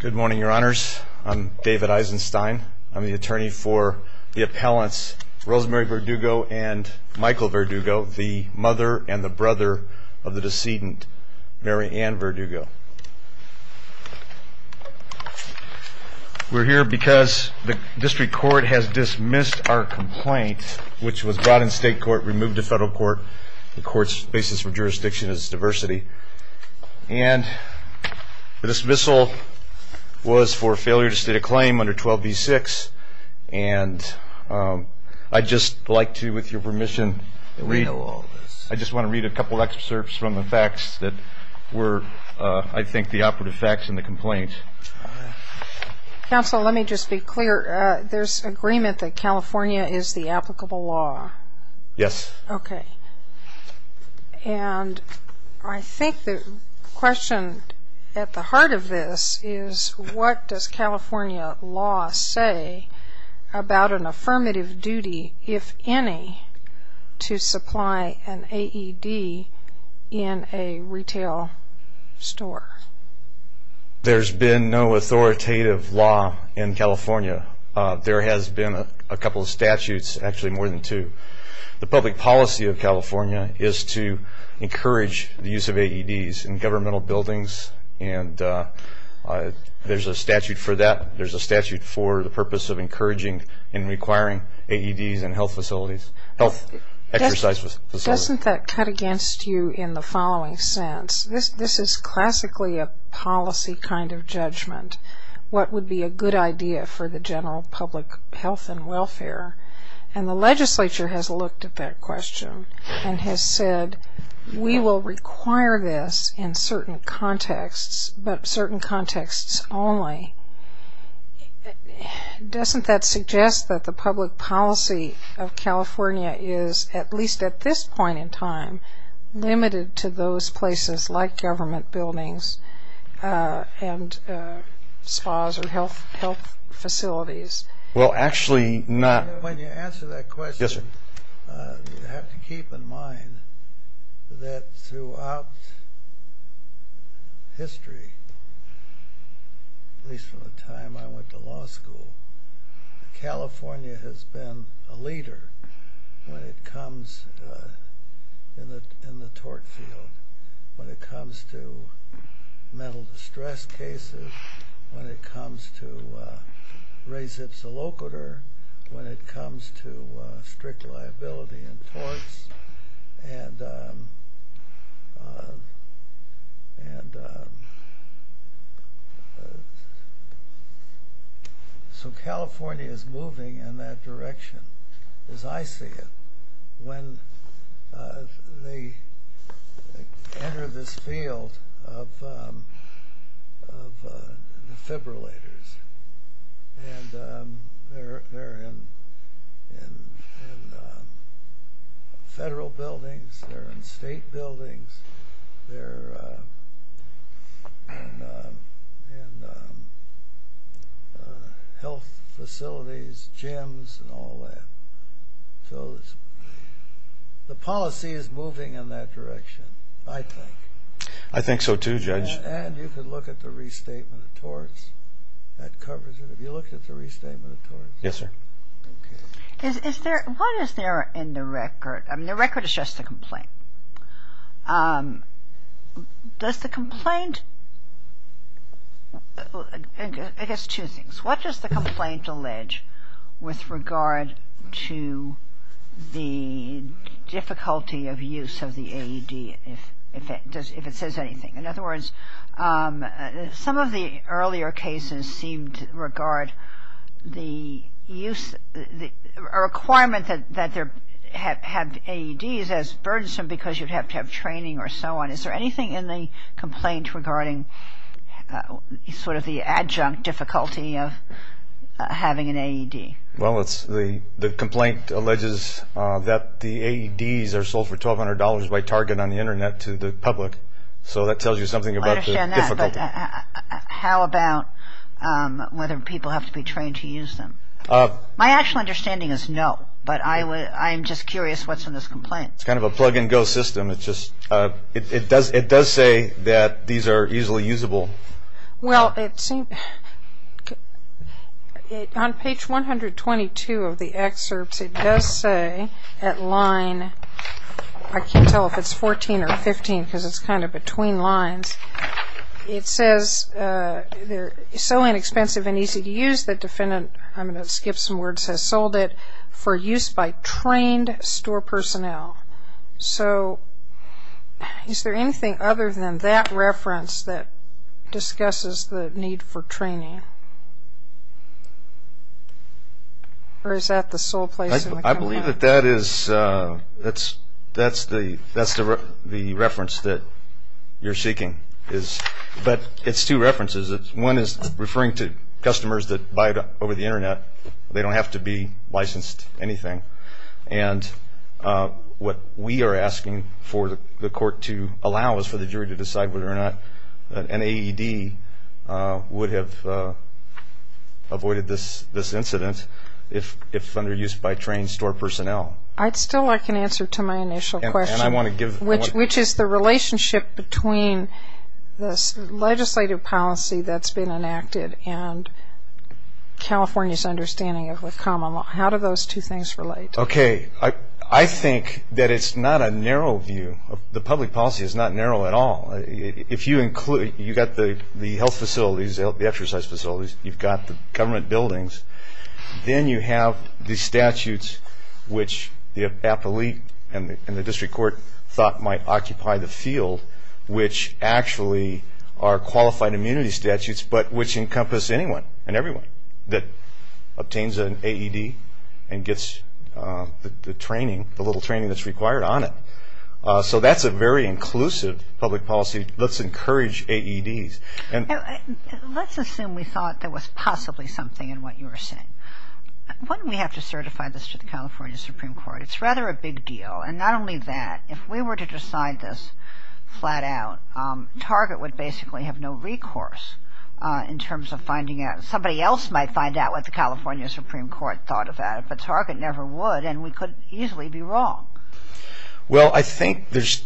Good morning, your honors. I'm David Eisenstein. I'm the attorney for the appellants Rosemary Verdugo and Michael Verdugo, the mother and the brother of the decedent Mary Ann Verdugo. We're here because the district court has dismissed our complaint which was brought in state court, removed to federal court. The court's basis for jurisdiction is diversity and the dismissal was for failure to state a claim under 12b-6 and I'd just like to, with your permission, I just want to read a couple excerpts from the facts that were, I think, the operative facts in the complaint. Counselor, let me just be clear. There's agreement that California is the applicable law? Yes. Okay, and I think the question at the heart of this is what does California law say about an affirmative duty, if any, to supply an AED in a retail store? There's been no authoritative law in California. There has been a couple of things. The policy of California is to encourage the use of AEDs in governmental buildings and there's a statute for that. There's a statute for the purpose of encouraging and requiring AEDs in health facilities, health exercise facilities. Doesn't that cut against you in the following sense? This is classically a policy kind of judgment. What would be a good idea for the general public health and welfare? And the legislature has looked at that question and has said we will require this in certain contexts, but certain contexts only. Doesn't that suggest that the public policy of California is, at least at this point in time, limited to those places like government buildings and spas or health facilities? Well, actually not. When you answer that question, you have to keep in mind that throughout history, at least from the time I went to law school, California has been a leader when it comes, in the tort field, when it comes to mental distress cases, when it comes to res ipsa locator, when it comes to strict liability and torts. And so California is moving in that direction, as I see it. When they enter this field, of defibrillators. And they're in federal buildings, they're in state buildings, they're in health facilities, gyms, and all that. So the policy is moving in that direction, I think. I think so too, Judge. And you can look at the restatement of torts. That covers it. Have you looked at the restatement of torts? Yes, sir. Okay. Is there, what is there in the record? I mean, the record is just a complaint. Does the complaint, I guess two things. What does the complaint allege with regard to the difficulty of use of the AED? If it says anything. In other words, some of the earlier cases seemed to regard the use, a requirement that they have AEDs as burdensome because you'd have to have training or so on. Is there anything in the complaint regarding sort of the adjunct difficulty of having an AED? Well, the complaint alleges that the AEDs are sold for $1,200 by Target on the Internet to the public. So that tells you something about the difficulty. I understand that. But how about whether people have to be trained to use them? My actual understanding is no. But I'm just curious what's in this complaint. It's kind of a plug and go system. It does say that these are easily usable. Well, it seems, on page 122 of the excerpts, it does say at line, I can't tell if it's 14 or 15 because it's kind of between lines. It says they're so inexpensive and easy to use that defendant, I'm going to skip some words, has sold it for use by trained store personnel. So is there anything other than that reference that discusses the need for training? Or is that the sole place in the complaint? That's the reference that you're seeking. But it's two references. One is referring to customers that buy over the Internet. They don't have to be licensed anything. And what we are asking for the court to allow is for the jury to decide whether or not an AED would have avoided this incident if under use by trained store personnel. I'd still like an answer to my initial question, which is the relationship between this legislative policy that's been enacted and California's understanding of the common law. How do those two things relate? Okay. I think that it's not a narrow view. The public policy is not narrow at all. If you include, you've got the health facilities, the exercise facilities, you've got the government buildings, then you have the statutes, which the appellee and the district court thought might occupy the field, which actually are qualified immunity statutes, but which encompass anyone and everyone that obtains an AED and gets licensed. The training, the little training that's required on it. So that's a very inclusive public policy. Let's encourage AEDs. Let's assume we thought there was possibly something in what you were saying. Wouldn't we have to certify this to the California Supreme Court? It's rather a big deal. And not only that, if we were to decide this flat out, Target would basically have no recourse in terms of finding out. Somebody else might find out what the California Supreme Court thought of that, but Target never would, and we could easily be wrong. Well, I think there's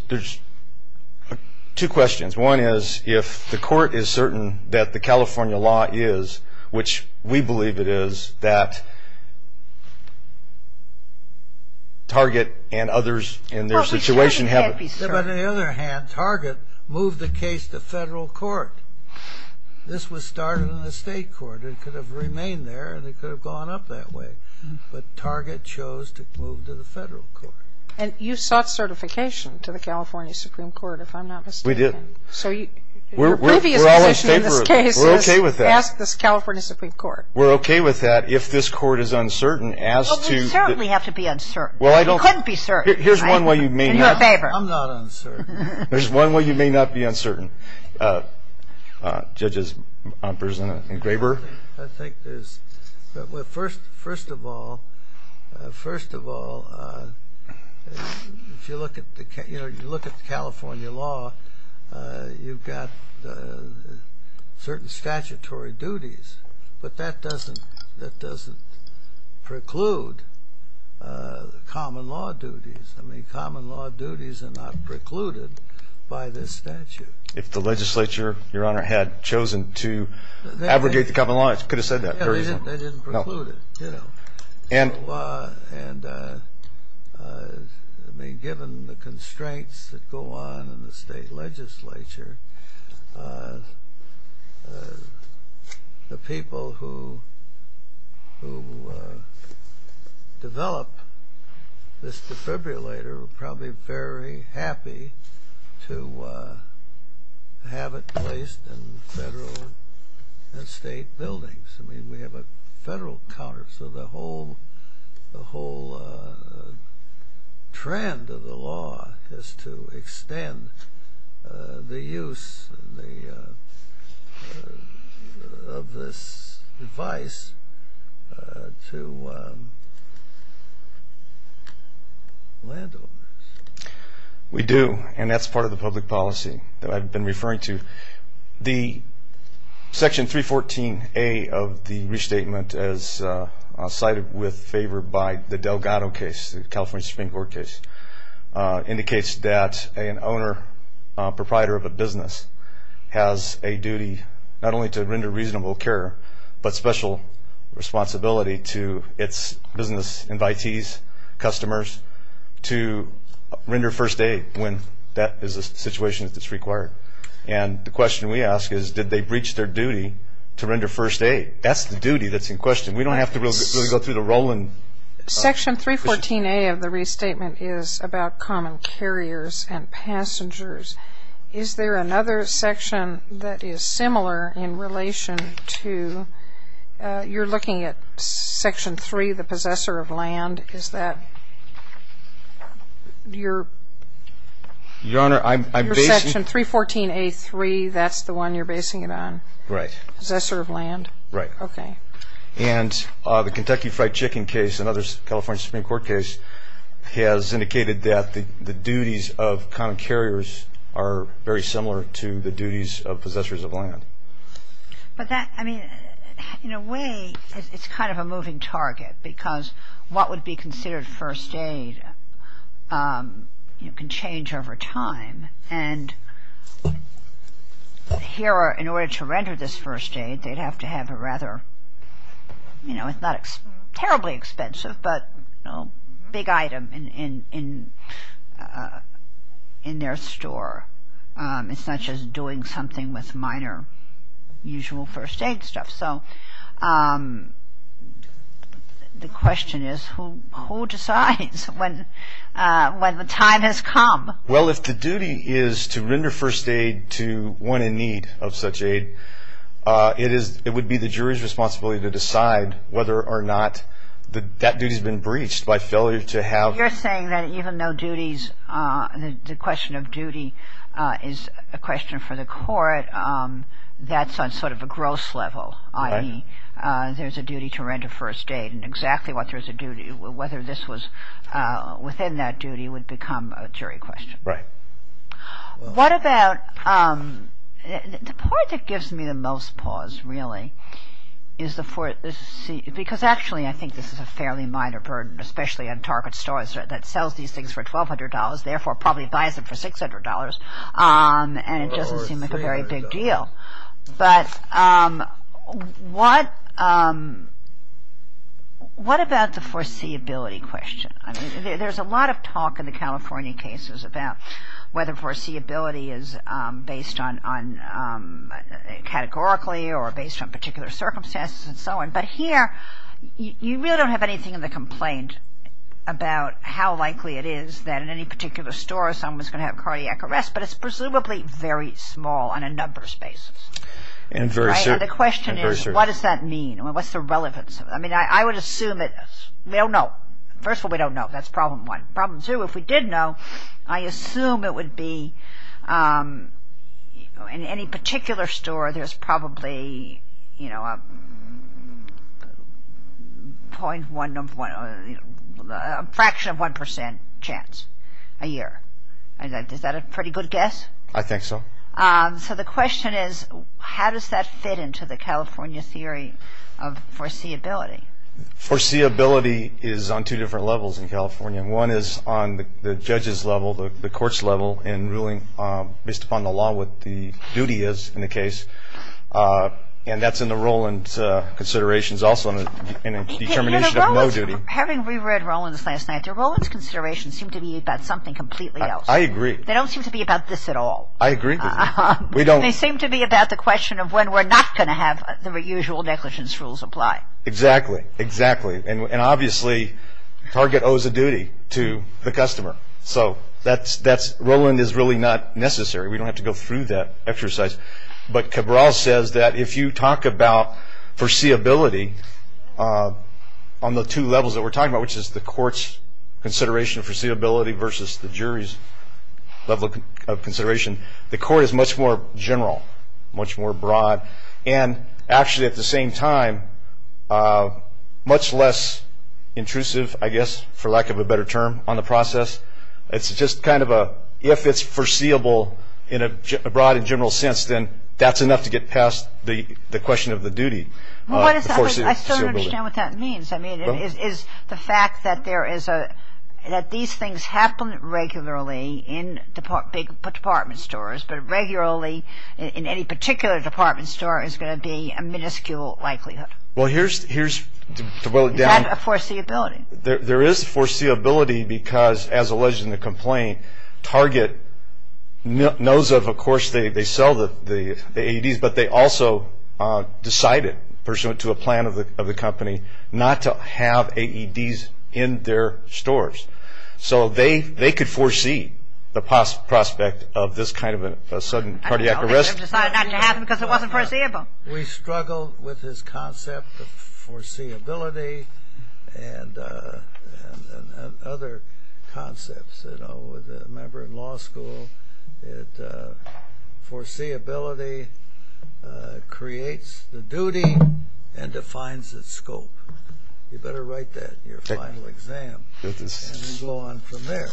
two questions. One is, if the court is certain that the California law is, which we believe it is, that Target and others in their situation have... And you sought certification to the California Supreme Court, if I'm not mistaken. We did. So your previous position in this case is... We're okay with that. ...ask the California Supreme Court. We're okay with that. If this court is uncertain as to... Well, we certainly have to be uncertain. Well, I don't... You couldn't be certain. Here's one way you may not... In your favor. I'm not uncertain. There's one way you may not be uncertain. Judges Umpers and Graber. I think there's... Well, first of all, if you look at the California law, you've got certain statutory duties, but that doesn't preclude common law duties. I mean, common law duties are not precluded by this statute. If the legislature, your honor, had chosen to abrogate the common law, it could have said that. They didn't preclude it, you know. And... And, I mean, given the constraints that go on in the state legislature, the people who develop this defibrillator are probably very happy to... have it placed in federal and state buildings. I mean, we have a federal counter, so the whole... the whole trend of the law is to extend the use of this device to landowners. We do, and that's part of the public policy that I've been referring to. The Section 314A of the restatement, as cited with favor by the Delgado case, the California Supreme Court case, indicates that an owner, proprietor of a business, has a duty not only to render reasonable care, but special responsibility to its business invitees, customers, to render first aid when that is a situation that's required. And the question we ask is, did they breach their duty to render first aid? That's the duty that's in question. We don't have to really go through the rolling... Is there another section that is similar in relation to... You're looking at Section 3, the possessor of land. Is that your... Your Honor, I'm basing... Your Section 314A3, that's the one you're basing it on? Right. Possessor of land? Right. Okay. And the Kentucky Fried Chicken case, another California Supreme Court case, has indicated that the duties of common carriers are very similar to the duties of possessors of land. But that, I mean, in a way, it's kind of a moving target, because what would be considered first aid, you know, can change over time. And here, in order to render this first aid, they'd have to have a rather, you know, it's not terribly expensive, but, you know, big item in their store. It's not just doing something with minor, usual first aid stuff. So, the question is, who decides when the time has come? Well, if the duty is to render first aid to one in need of such aid, it would be the jury's responsibility to decide whether or not that duty's been breached by failure to have... But you're saying that even though duties, the question of duty is a question for the court, that's on sort of a gross level, i.e. there's a duty to render first aid, and exactly what there's a duty, whether this was within that duty would become a jury question. Right. What about...the part that gives me the most pause, really, is the...because actually, I think this is a fairly minor burden, especially on target stores that sells these things for $1,200, therefore probably buys them for $600, and it doesn't seem like a very big deal. But what about the foreseeability question? I mean, there's a lot of talk in the California cases about whether foreseeability is based on categorically or based on particular circumstances and so on, but here, you really don't have anything in the complaint about how likely it is that in any particular store someone's going to have cardiac arrest, but it's presumably very small on a numbers basis. And very certain. And the question is, what does that mean? What's the relevance? I mean, I would assume that...we don't know. First of all, we don't know. That's problem one. Problem two, if we did know, I assume it would be in any particular store, there's probably, you know, a fraction of 1% chance a year. Is that a pretty good guess? I think so. So the question is, how does that fit into the California theory of foreseeability? Foreseeability is on two different levels in California. One is on the judge's level, the court's level, in ruling based upon the law what the duty is in the case, and that's in the Rowland's considerations, also in a determination of no duty. Having reread Rowland's last night, the Rowland's considerations seem to be about something completely else. I agree. They don't seem to be about this at all. I agree with you. We don't... They seem to be about the question of when we're not going to have the usual negligence rules apply. Exactly. Exactly. And obviously, target owes a duty to the customer. So that's...Rowland is really not necessary. We don't have to go through that exercise. But Cabral says that if you talk about foreseeability on the two levels that we're talking about, which is the court's consideration of foreseeability versus the jury's level of consideration, the court is much more general, much more broad, and actually at the same time, much less intrusive, I guess, for lack of a better term, on the process. It's just kind of a...if it's foreseeable in a broad and general sense, then that's enough to get past the question of the duty. I still don't understand what that means. I mean, is the fact that there is a...that these things happen regularly in department stores, but regularly in any particular department store is going to be a minuscule likelihood. Well, here's...to boil it down... Is that a foreseeability? There is foreseeability because, as alleged in the complaint, target knows of, of course, they sell the AEDs, but they also decided, pursuant to a plan of the company, not to have AEDs in their stores. So they could foresee the prospect of this kind of a sudden cardiac arrest. I don't know. They could have decided not to have them because it wasn't foreseeable. We struggle with this concept of foreseeability and other concepts. You know, with a member in law school, it...foreseeability creates the duty and defines its scope. You better write that in your final exam and then go on from there.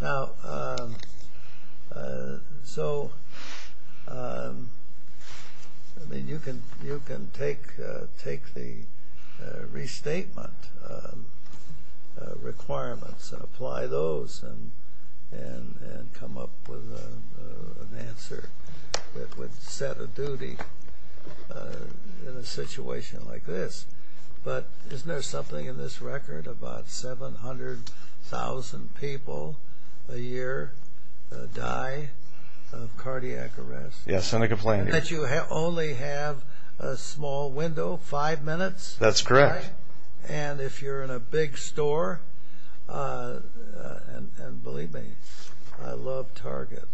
Now, so, I mean, you can take the restatement requirements and apply those and come up with an answer that would set a duty in a situation like this. But isn't there something in this record about 700,000 people a year die of cardiac arrest? Yes, in a complaint. And that you only have a small window, five minutes? That's correct. And if you're in a big store, and believe me, I love Target.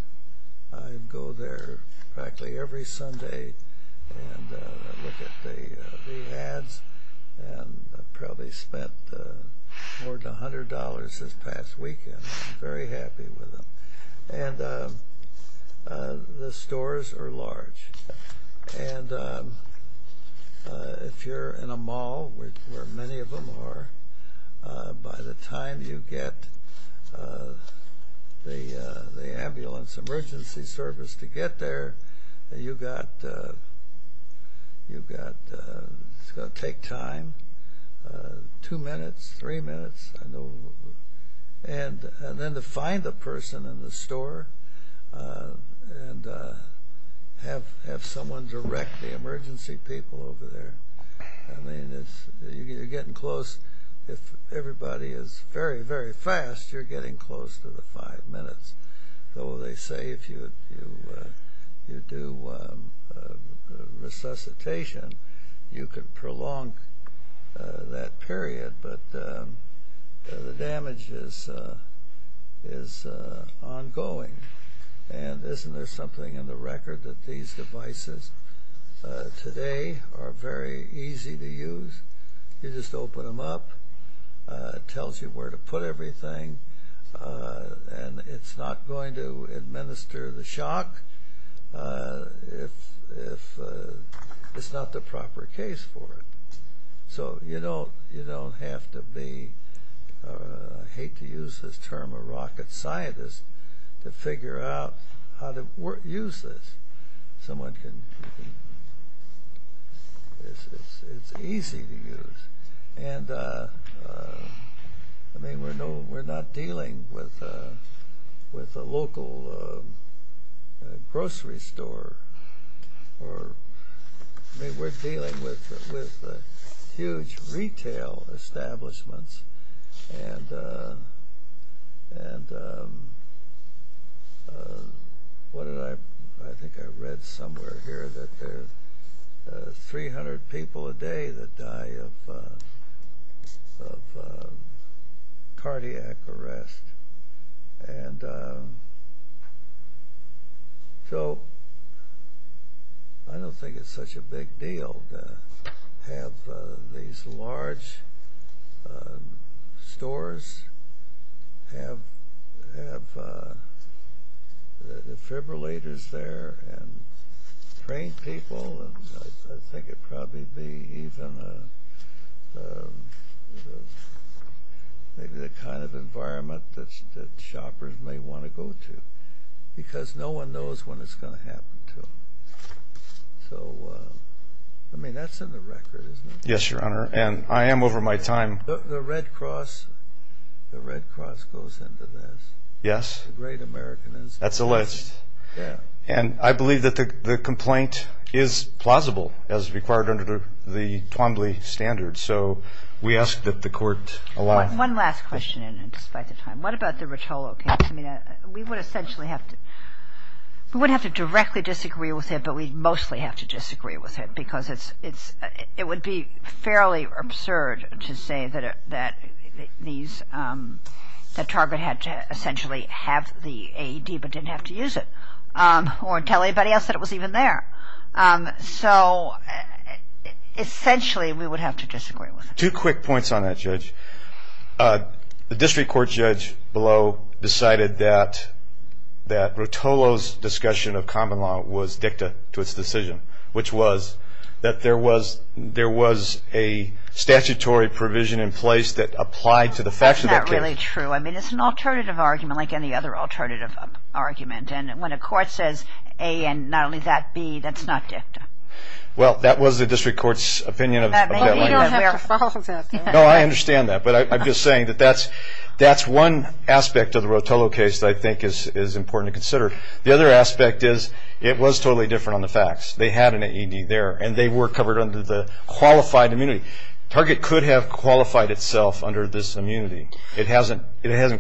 I go there practically every Sunday and look at the ads and probably spent more than $100 this past weekend. I'm very happy with them. And the stores are large. And if you're in a mall, where many of them are, by the time you get the ambulance emergency service to get there, you've got...it's going to take time, two minutes, three minutes. And then to find the person in the store and have someone direct the emergency people over there. I mean, you're getting close. If everybody is very, very fast, you're getting close to the five minutes. Though they say if you do resuscitation, you could prolong that period. But the damage is ongoing. And isn't there something in the record that these devices today are very easy to use? You just open them up. It tells you where to put everything. And it's not going to administer the shock if it's not the proper case for it. So you don't have to be, I hate to use this term, a rocket scientist to figure out how to use this. Someone can...it's easy to use. And, I mean, we're not dealing with a local grocery store. I mean, we're dealing with huge retail establishments. And what did I...I think I read somewhere here that there are 300 people a day that die of cardiac arrest. And so I don't think it's such a big deal to have these large stores, have defibrillators there and train people. I think it'd probably be even the kind of environment that shoppers may want to go to. Because no one knows when it's going to happen to them. So, I mean, that's in the record, isn't it? Yes, Your Honor, and I am over my time. The Red Cross goes into this. Yes. The Great American Institute. That's alleged. Yeah. And I believe that the complaint is plausible as required under the Twombly standards. So we ask that the court allow it. One last question, despite the time. What about the Rotolo case? I mean, we would essentially have to...we wouldn't have to directly disagree with it, but we'd mostly have to disagree with it because it would be fairly absurd to say that these... that Target had to essentially have the AED but didn't have to use it. Or tell anybody else that it was even there. So, essentially, we would have to disagree with it. Two quick points on that, Judge. The district court judge below decided that Rotolo's discussion of common law was dicta to its decision, which was that there was a statutory provision in place that applied to the facts of that case. That's not really true. I mean, it's an alternative argument like any other alternative argument. And when a court says A and not only that, B, that's not dicta. Well, that was the district court's opinion of that. But we don't have to follow that. No, I understand that. But I'm just saying that that's one aspect of the Rotolo case that I think is important to consider. The other aspect is it was totally different on the facts. They had an AED there, and they were covered under the qualified immunity. Target could have qualified itself under this immunity. It hasn't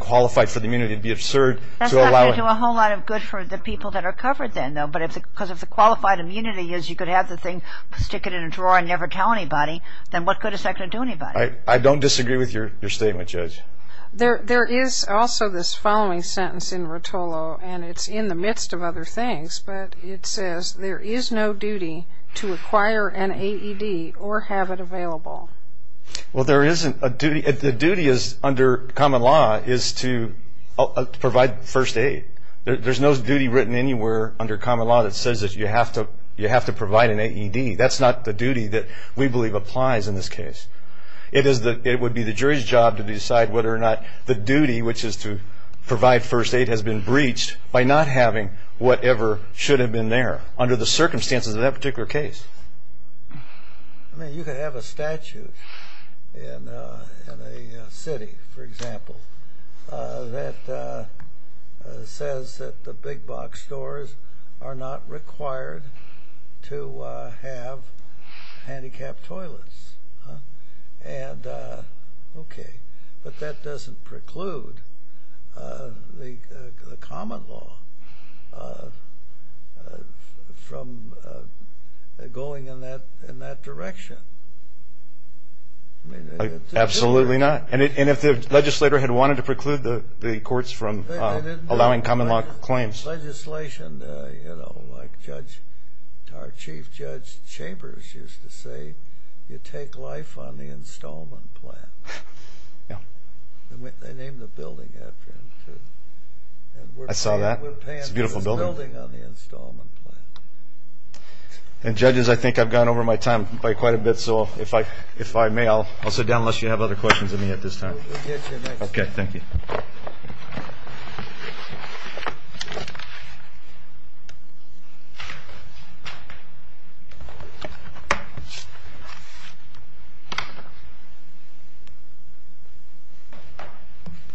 qualified for the immunity to be absurd to allow it. It's not going to do a whole lot of good for the people that are covered then, though, because if the qualified immunity is you could have the thing, stick it in a drawer and never tell anybody, then what good is that going to do anybody? I don't disagree with your statement, Judge. There is also this following sentence in Rotolo, and it's in the midst of other things, but it says there is no duty to acquire an AED or have it available. Well, there isn't a duty. The duty under common law is to provide first aid. There's no duty written anywhere under common law that says that you have to provide an AED. That's not the duty that we believe applies in this case. It would be the jury's job to decide whether or not the duty, which is to provide first aid, has been breached by not having whatever should have been there under the circumstances of that particular case. I mean, you could have a statute in a city, for example, that says that the big box stores are not required to have handicapped toilets. And, okay, but that doesn't preclude the common law from going in that direction. Absolutely not. And if the legislator had wanted to preclude the courts from allowing common law claims. The legislation, you know, like our Chief Judge Chambers used to say, you take life on the installment plan. They named the building after him, too. I saw that. It's a beautiful building. And, judges, I think I've gone over my time quite a bit, so if I may, I'll sit down unless you have other questions of me at this time. Okay, thank you.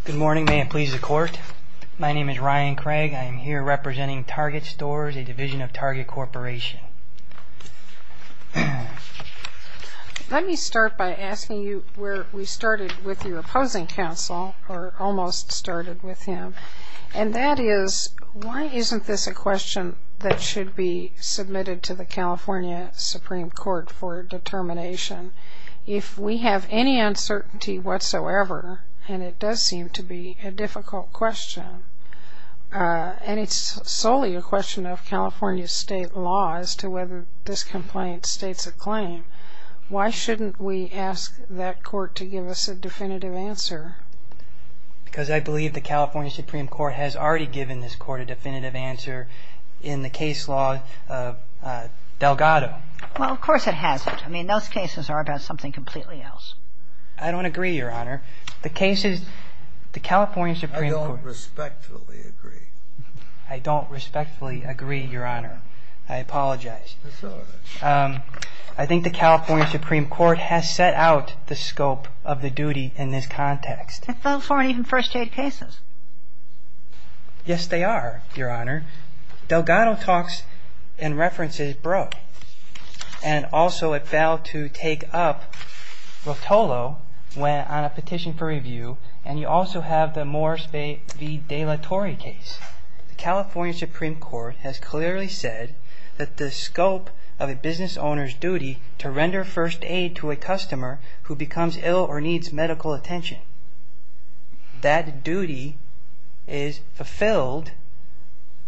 Good morning. May it please the Court. My name is Ryan Craig. I am here representing Target Stores, a division of Target Corporation. Let me start by asking you where we started with your opposing counsel, or almost started with him. And that is, why isn't this a question that should be submitted to the California Supreme Court for determination? If we have any uncertainty whatsoever, and it does seem to be a difficult question, and it's solely a question of California state law as to whether this complaint states a claim, why shouldn't we ask that court to give us a definitive answer? Because I believe the California Supreme Court has already given this court a definitive answer in the case law of Delgado. Well, of course it hasn't. I mean, those cases are about something completely else. I don't agree, Your Honor. The cases, the California Supreme Court I don't respectfully agree. I don't respectfully agree, Your Honor. I apologize. That's all right. I think the California Supreme Court has set out the scope of the duty in this context. Those weren't even first-date cases. Yes, they are, Your Honor. Delgado talks and references broke. And also it failed to take up Rotolo on a petition for review. And you also have the Morris v. De La Torre case. The California Supreme Court has clearly said that the scope of a business owner's duty to render first aid to a customer who becomes ill or needs medical attention, that duty is fulfilled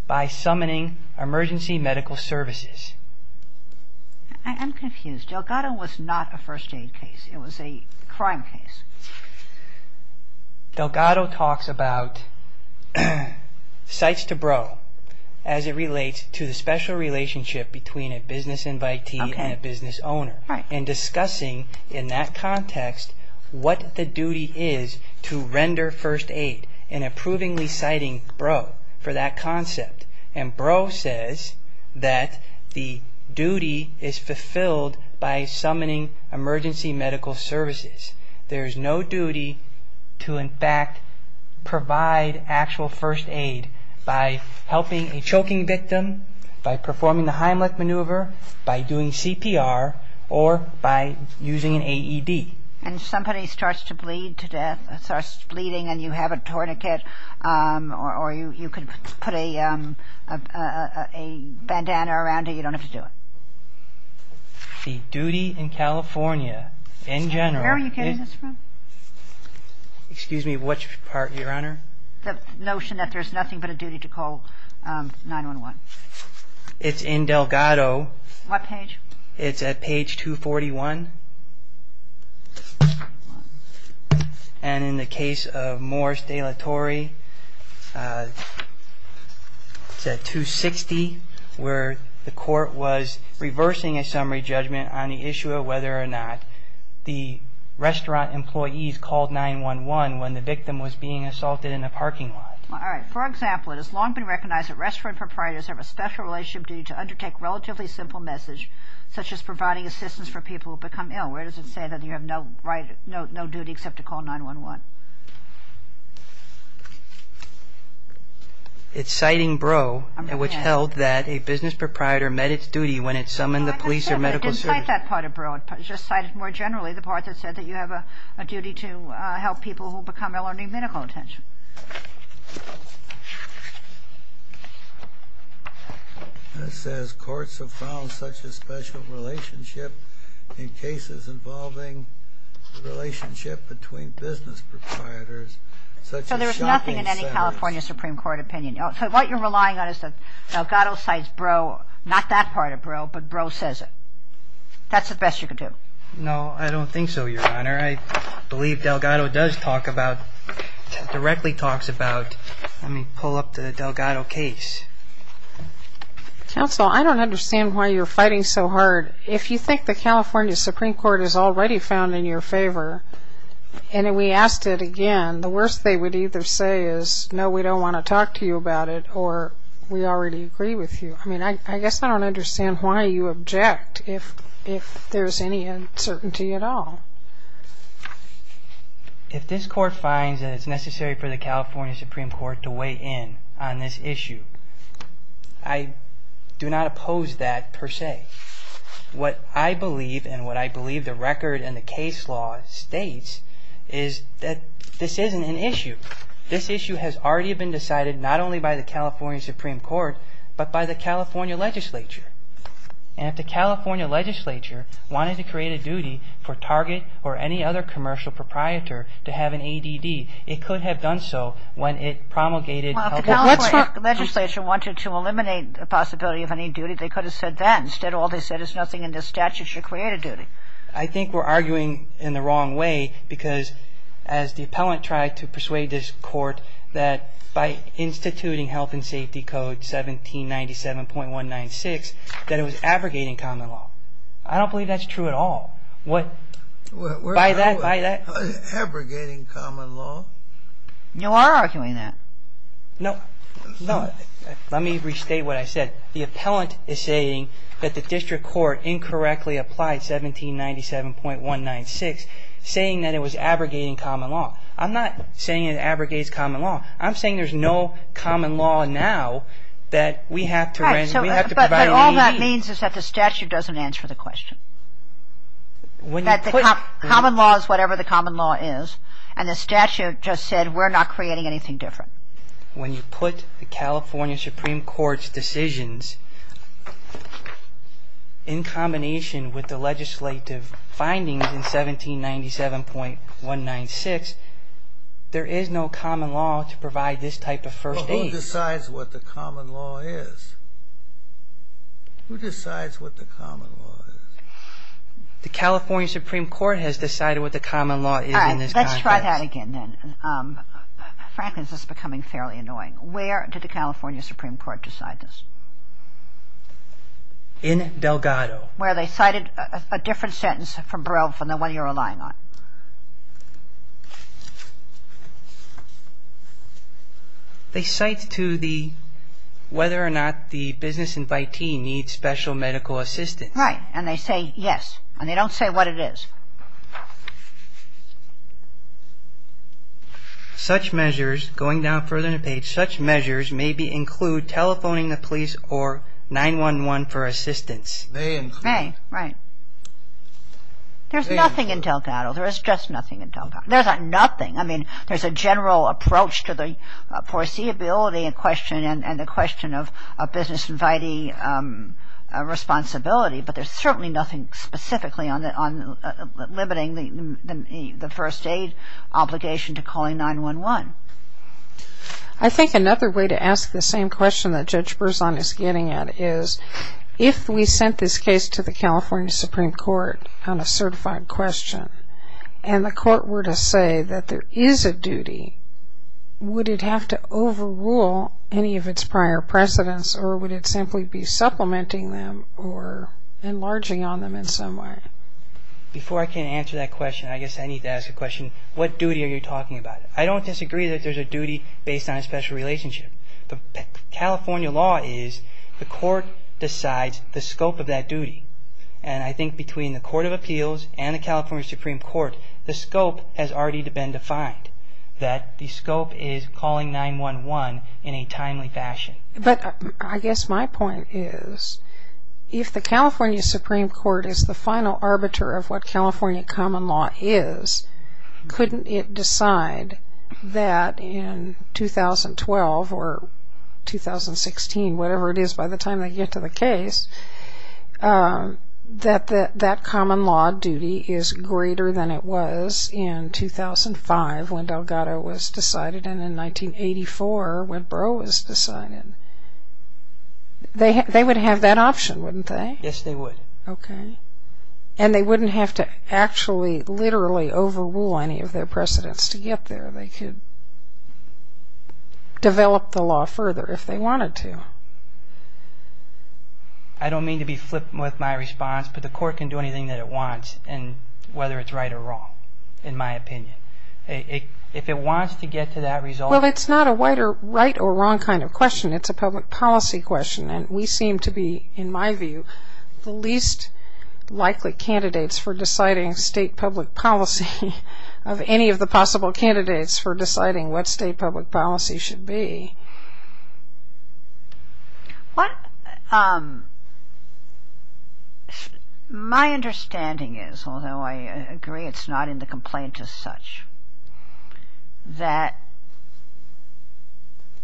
by summoning emergency medical services. I'm confused. Delgado was not a first-date case. It was a crime case. Delgado talks about cites to bro as it relates to the special relationship between a business invitee and a business owner and discussing in that context what the duty is to render first aid and approvingly citing bro for that concept. And bro says that the duty is fulfilled by summoning emergency medical services. There is no duty to, in fact, provide actual first aid by helping a choking victim, by performing the Heimlich maneuver, by doing CPR, or by using an AED. And somebody starts to bleed to death, starts bleeding and you have a tourniquet or you could put a bandana around it. You don't have to do it. The duty in California in general. Where are you getting this from? Excuse me, which part, Your Honor? The notion that there's nothing but a duty to call 911. It's in Delgado. What page? It's at page 241. And in the case of Morris de la Torre, it's at 260, where the court was reversing a summary judgment on the issue of whether or not the restaurant employees called 911 when the victim was being assaulted in a parking lot. All right. For example, it has long been recognized that restaurant proprietors have a special relationship duty to undertake relatively simple message, such as providing assistance for people who become ill. Where does it say that you have no duty except to call 911? It's citing Breaux, which held that a business proprietor met its duty when it summoned the police or medical service. It didn't cite that part of Breaux. It just cited more generally the part that said that you have a duty to help people who become ill or need medical attention. It says courts have found such a special relationship in cases involving the relationship between business proprietors, such as shopping centers. So there's nothing in any California Supreme Court opinion. So what you're relying on is that Delgado cites Breaux, not that part of Breaux, but Breaux says it. That's the best you can do. No, I don't think so, Your Honor. I believe Delgado does talk about, directly talks about, let me pull up the Delgado case. Counsel, I don't understand why you're fighting so hard. If you think the California Supreme Court has already found in your favor, and we asked it again, the worst they would either say is, no, we don't want to talk to you about it, or we already agree with you. I guess I don't understand why you object if there's any uncertainty at all. If this court finds that it's necessary for the California Supreme Court to weigh in on this issue, I do not oppose that per se. What I believe, and what I believe the record and the case law states, is that this isn't an issue. This issue has already been decided not only by the California Supreme Court, but by the California legislature. And if the California legislature wanted to create a duty for Target or any other commercial proprietor to have an ADD, it could have done so when it promulgated health care. Well, if the California legislature wanted to eliminate the possibility of any duty, they could have said that. Instead, all they said is nothing in this statute should create a duty. I think we're arguing in the wrong way, because as the appellant tried to persuade this court, that by instituting Health and Safety Code 1797.196, that it was abrogating common law. I don't believe that's true at all. What? By that, by that. Abrogating common law? You are arguing that. No. No. Let me restate what I said. The appellant is saying that the district court incorrectly applied 1797.196, saying that it was abrogating common law. I'm not saying it abrogates common law. I'm saying there's no common law now that we have to provide an ADD. But all that means is that the statute doesn't answer the question. That the common law is whatever the common law is, and the statute just said we're not creating anything different. When you put the California Supreme Court's decisions in combination with the legislative findings in 1797.196, there is no common law to provide this type of first aid. But who decides what the common law is? Who decides what the common law is? The California Supreme Court has decided what the common law is in this context. All right. Let's try that again then. Frankly, this is becoming fairly annoying. Where did the California Supreme Court decide this? In Delgado. Where they cited a different sentence from Baril than the one you're relying on. They cite to the whether or not the business invitee needs special medical assistance. Right. And they say yes. And they don't say what it is. So, let's go back. Such measures going down further in the page. Such measures may include telephoning the police or 911 for assistance. They include. Right. There's nothing in Delgado. There's just nothing in Delgado. There's nothing. I mean, there's a general approach to the foreseeability in question and the question of business inviting responsibility, but there's certainly nothing specifically on limiting the first aid obligation to calling 911. I think another way to ask the same question that Judge Berzon is getting at is, if we sent this case to the California Supreme Court on a certified question and the court were to say that there is a duty, would it have to overrule any of its prior precedents or would it simply be supplementing them or enlarging on them in some way? Before I can answer that question, I guess I need to ask a question. What duty are you talking about? I don't disagree that there's a duty based on a special relationship. The California law is the court decides the scope of that duty and I think between the Court of Appeals and the California Supreme Court, the scope has already been defined, that the scope is calling 911 in a timely fashion. But I guess my point is if the California Supreme Court is the final arbiter of what California common law is, couldn't it decide that in 2012 or 2016, whatever it is by the time they get to the case, that that common law duty is greater than it was in 2005 when Delgado was decided and in 1984 when Breaux was decided? They would have that option, wouldn't they? Yes, they would. Okay. And they wouldn't have to actually literally overrule any of their precedents to get there. They could develop the law further if they wanted to. I don't mean to be flippant with my response, but the court can do anything that it wants, whether it's right or wrong, in my opinion. If it wants to get to that result... Well, it's not a right or wrong kind of question. It's a public policy question and we seem to be, in my view, the least likely candidates for deciding state public policy of any of the possible candidates for deciding what state public policy should be. My understanding is, although I agree it's not in the complaint as such, that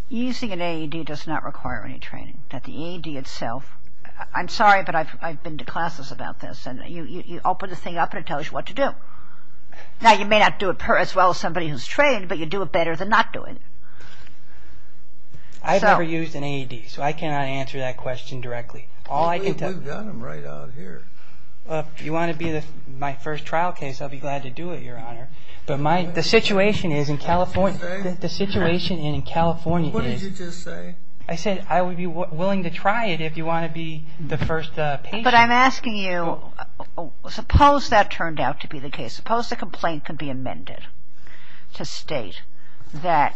using an AED does not require any training, that the AED itself... I'm sorry, but I've been to classes about this and you open the thing up and it tells you what to do. Now, you may not do it as well as somebody who's trained, but you do it better than not doing it. I've never used an AED, so I cannot answer that question directly. We've done them right out here. If you want to be my first trial case, I'll be glad to do it, Your Honor. But the situation in California is... What did you just say? I said I would be willing to try it if you want to be the first patient. But I'm asking you, suppose that turned out to be the case. Suppose the complaint could be amended to state that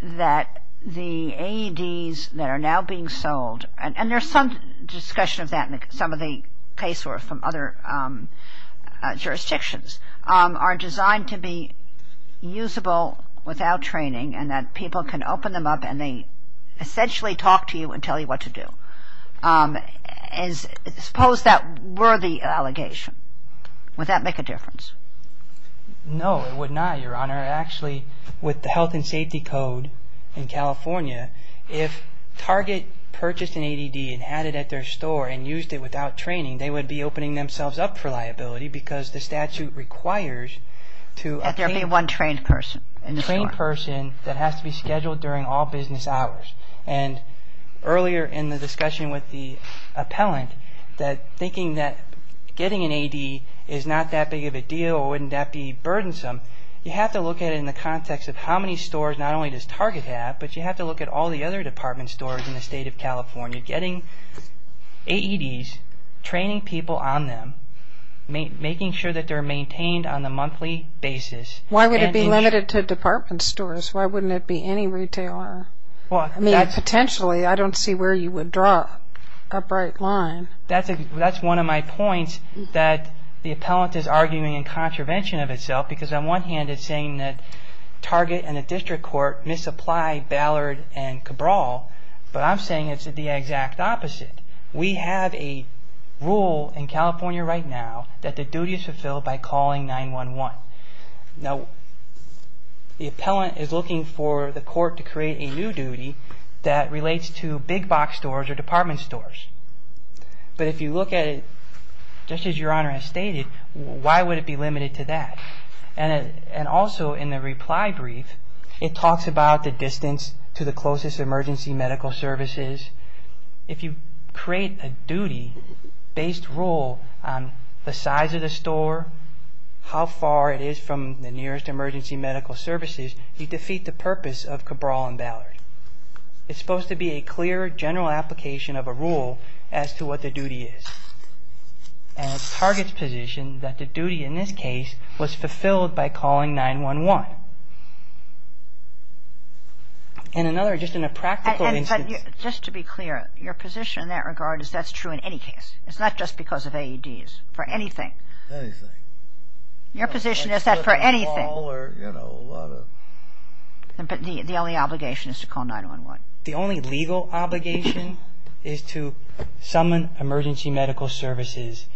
the AEDs that are now being sold, and there's some discussion of that in some of the cases from other jurisdictions, are designed to be usable without training and that people can open them up and they essentially talk to you and tell you what to do. Suppose that were the allegation. Would that make a difference? No, it would not, Your Honor. Actually, with the Health and Safety Code in California, if Target purchased an AED and had it at their store and used it without training, they would be opening themselves up for liability because the statute requires to obtain... That there be one trained person in the store. A trained person that has to be scheduled during all business hours. And earlier in the discussion with the appellant, thinking that getting an AED is not that big of a deal or wouldn't that be burdensome, you have to look at it in the context of how many stores not only does Target have, but you have to look at all the other department stores in the state of California. Getting AEDs, training people on them, making sure that they're maintained on a monthly basis. Why would it be limited to department stores? Why wouldn't it be any retailer? Potentially, I don't see where you would draw an upright line. That's one of my points that the appellant is arguing in contravention of itself because on one hand it's saying that Target and the district court misapply Ballard and Cabral, but I'm saying it's the exact opposite. We have a rule in California right now that the duty is fulfilled by calling 911. Now, the appellant is looking for the court to create a new duty that relates to big box stores or department stores. But if you look at it just as Your Honor has stated, why would it be limited to that? And also in the reply brief, it talks about the distance to the closest emergency medical services. If you create a duty-based rule on the size of the store, how far it is from the nearest emergency medical services, you defeat the purpose of Cabral and Ballard. It's supposed to be a clear general application of a rule as to what the duty is. And it's Target's position that the duty in this case was fulfilled by calling 911. And another, just in a practical instance... But just to be clear, your position in that regard is that's true in any case. It's not just because of AEDs, for anything. Anything. Your position is that for anything. Or, you know, a lot of... But the only obligation is to call 911. The only legal obligation is to summon emergency medical services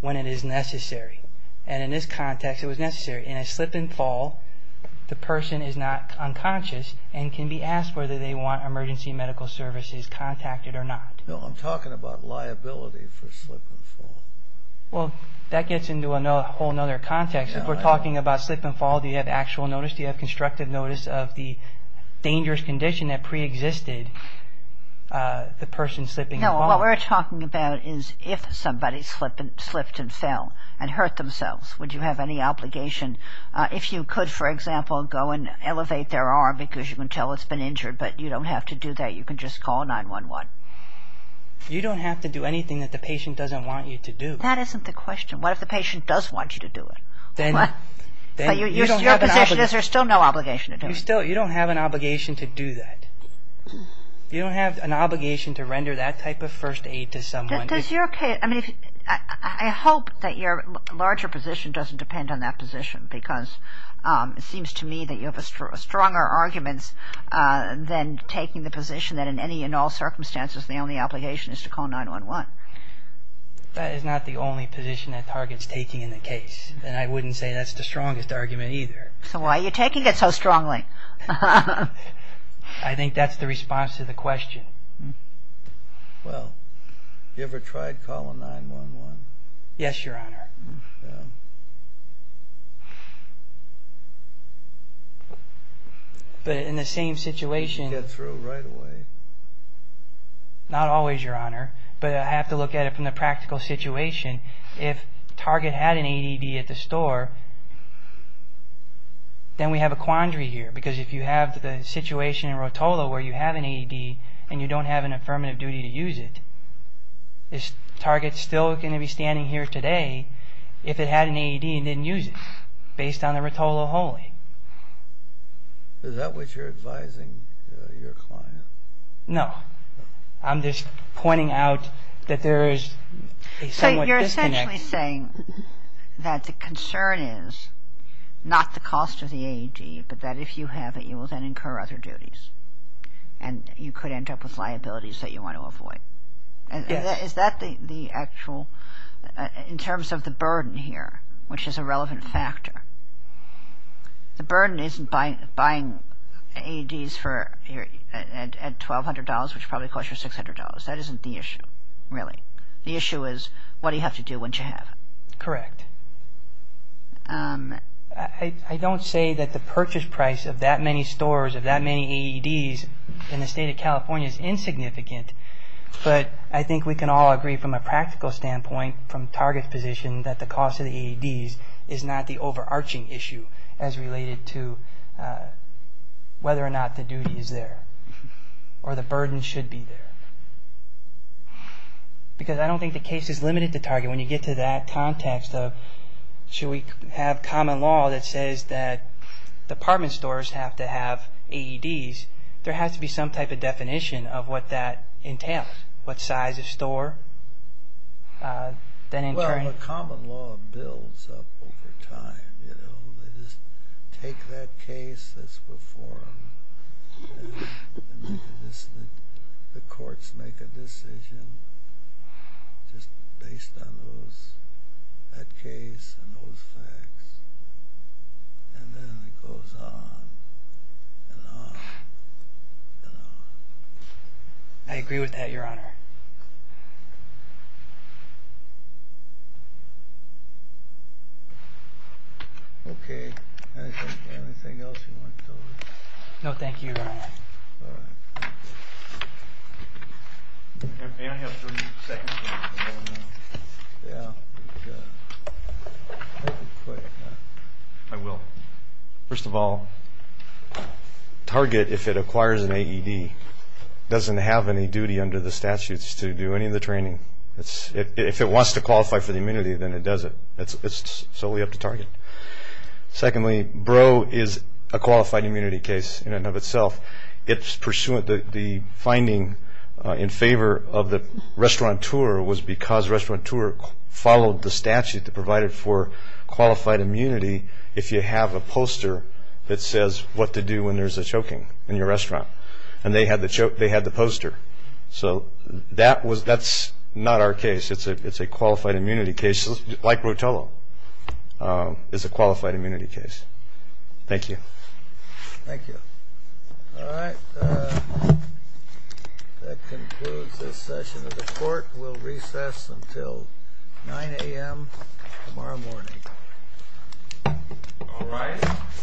when it is necessary. And in this context, it was necessary. In a slip and fall, the person is not unconscious and can be asked whether they want emergency medical services contacted or not. No, I'm talking about liability for slip and fall. Well, that gets into a whole other context. If we're talking about slip and fall, do you have actual notice? Do you have constructive notice of the dangerous condition that preexisted the person slipping and falling? No, what we're talking about is if somebody slipped and fell and hurt themselves, would you have any obligation? If you could, for example, go and elevate their arm because you can tell it's been injured, but you don't have to do that. You can just call 911. You don't have to do anything that the patient doesn't want you to do. That isn't the question. What if the patient does want you to do it? Your position is there's still no obligation to do it. You don't have an obligation to do that. You don't have an obligation to render that type of first aid to someone. I hope that your larger position doesn't depend on that position because it seems to me that you have stronger arguments than taking the position that in any and all circumstances the only obligation is to call 911. That is not the only position that Target's taking in the case, and I wouldn't say that's the strongest argument either. So why are you taking it so strongly? I think that's the response to the question. Well, have you ever tried calling 911? Yes, Your Honor. But in the same situation— You get through right away. Not always, Your Honor, but I have to look at it from the practical situation. If Target had an AED at the store, then we have a quandary here because if you have the situation in Rotolo where you have an AED and you don't have an affirmative duty to use it, is Target still going to be standing here today if it had an AED and didn't use it based on the Rotolo holding? Is that what you're advising your client? No. I'm just pointing out that there is a somewhat disconnect. But that if you have it, you will then incur other duties, and you could end up with liabilities that you want to avoid. Yes. Is that the actual—in terms of the burden here, which is a relevant factor, the burden isn't buying AEDs at $1,200, which probably costs you $600. That isn't the issue, really. The issue is what do you have to do once you have it. Correct. I don't say that the purchase price of that many stores, of that many AEDs, in the state of California is insignificant, but I think we can all agree from a practical standpoint, from Target's position, that the cost of the AEDs is not the overarching issue as related to whether or not the duty is there or the burden should be there. When you get to that context of should we have common law that says that department stores have to have AEDs, there has to be some type of definition of what that entails, what size of store, then incurring— Well, the common law builds up over time. They just take that case that's before them, and the courts make a decision just based on that case and those facts, and then it goes on and on and on. I agree with that, Your Honor. Okay. Anything else you want to tell me? No, thank you, Your Honor. I will. First of all, Target, if it acquires an AED, doesn't have any duty under the statutes to do any of the training. If it wants to qualify for the immunity, then it does it. It's solely up to Target. Secondly, Breaux is a qualified immunity case in and of itself. The finding in favor of the restaurateur was because the restaurateur followed the statute that provided for qualified immunity if you have a poster that says what to do when there's a choking in your restaurant, and they had the poster. So that's not our case. It's a qualified immunity case, like Rotello is a qualified immunity case. Thank you. Thank you. All right. That concludes this session of the court. We'll recess until 9 a.m. tomorrow morning. All right. Thank you, Your Honor.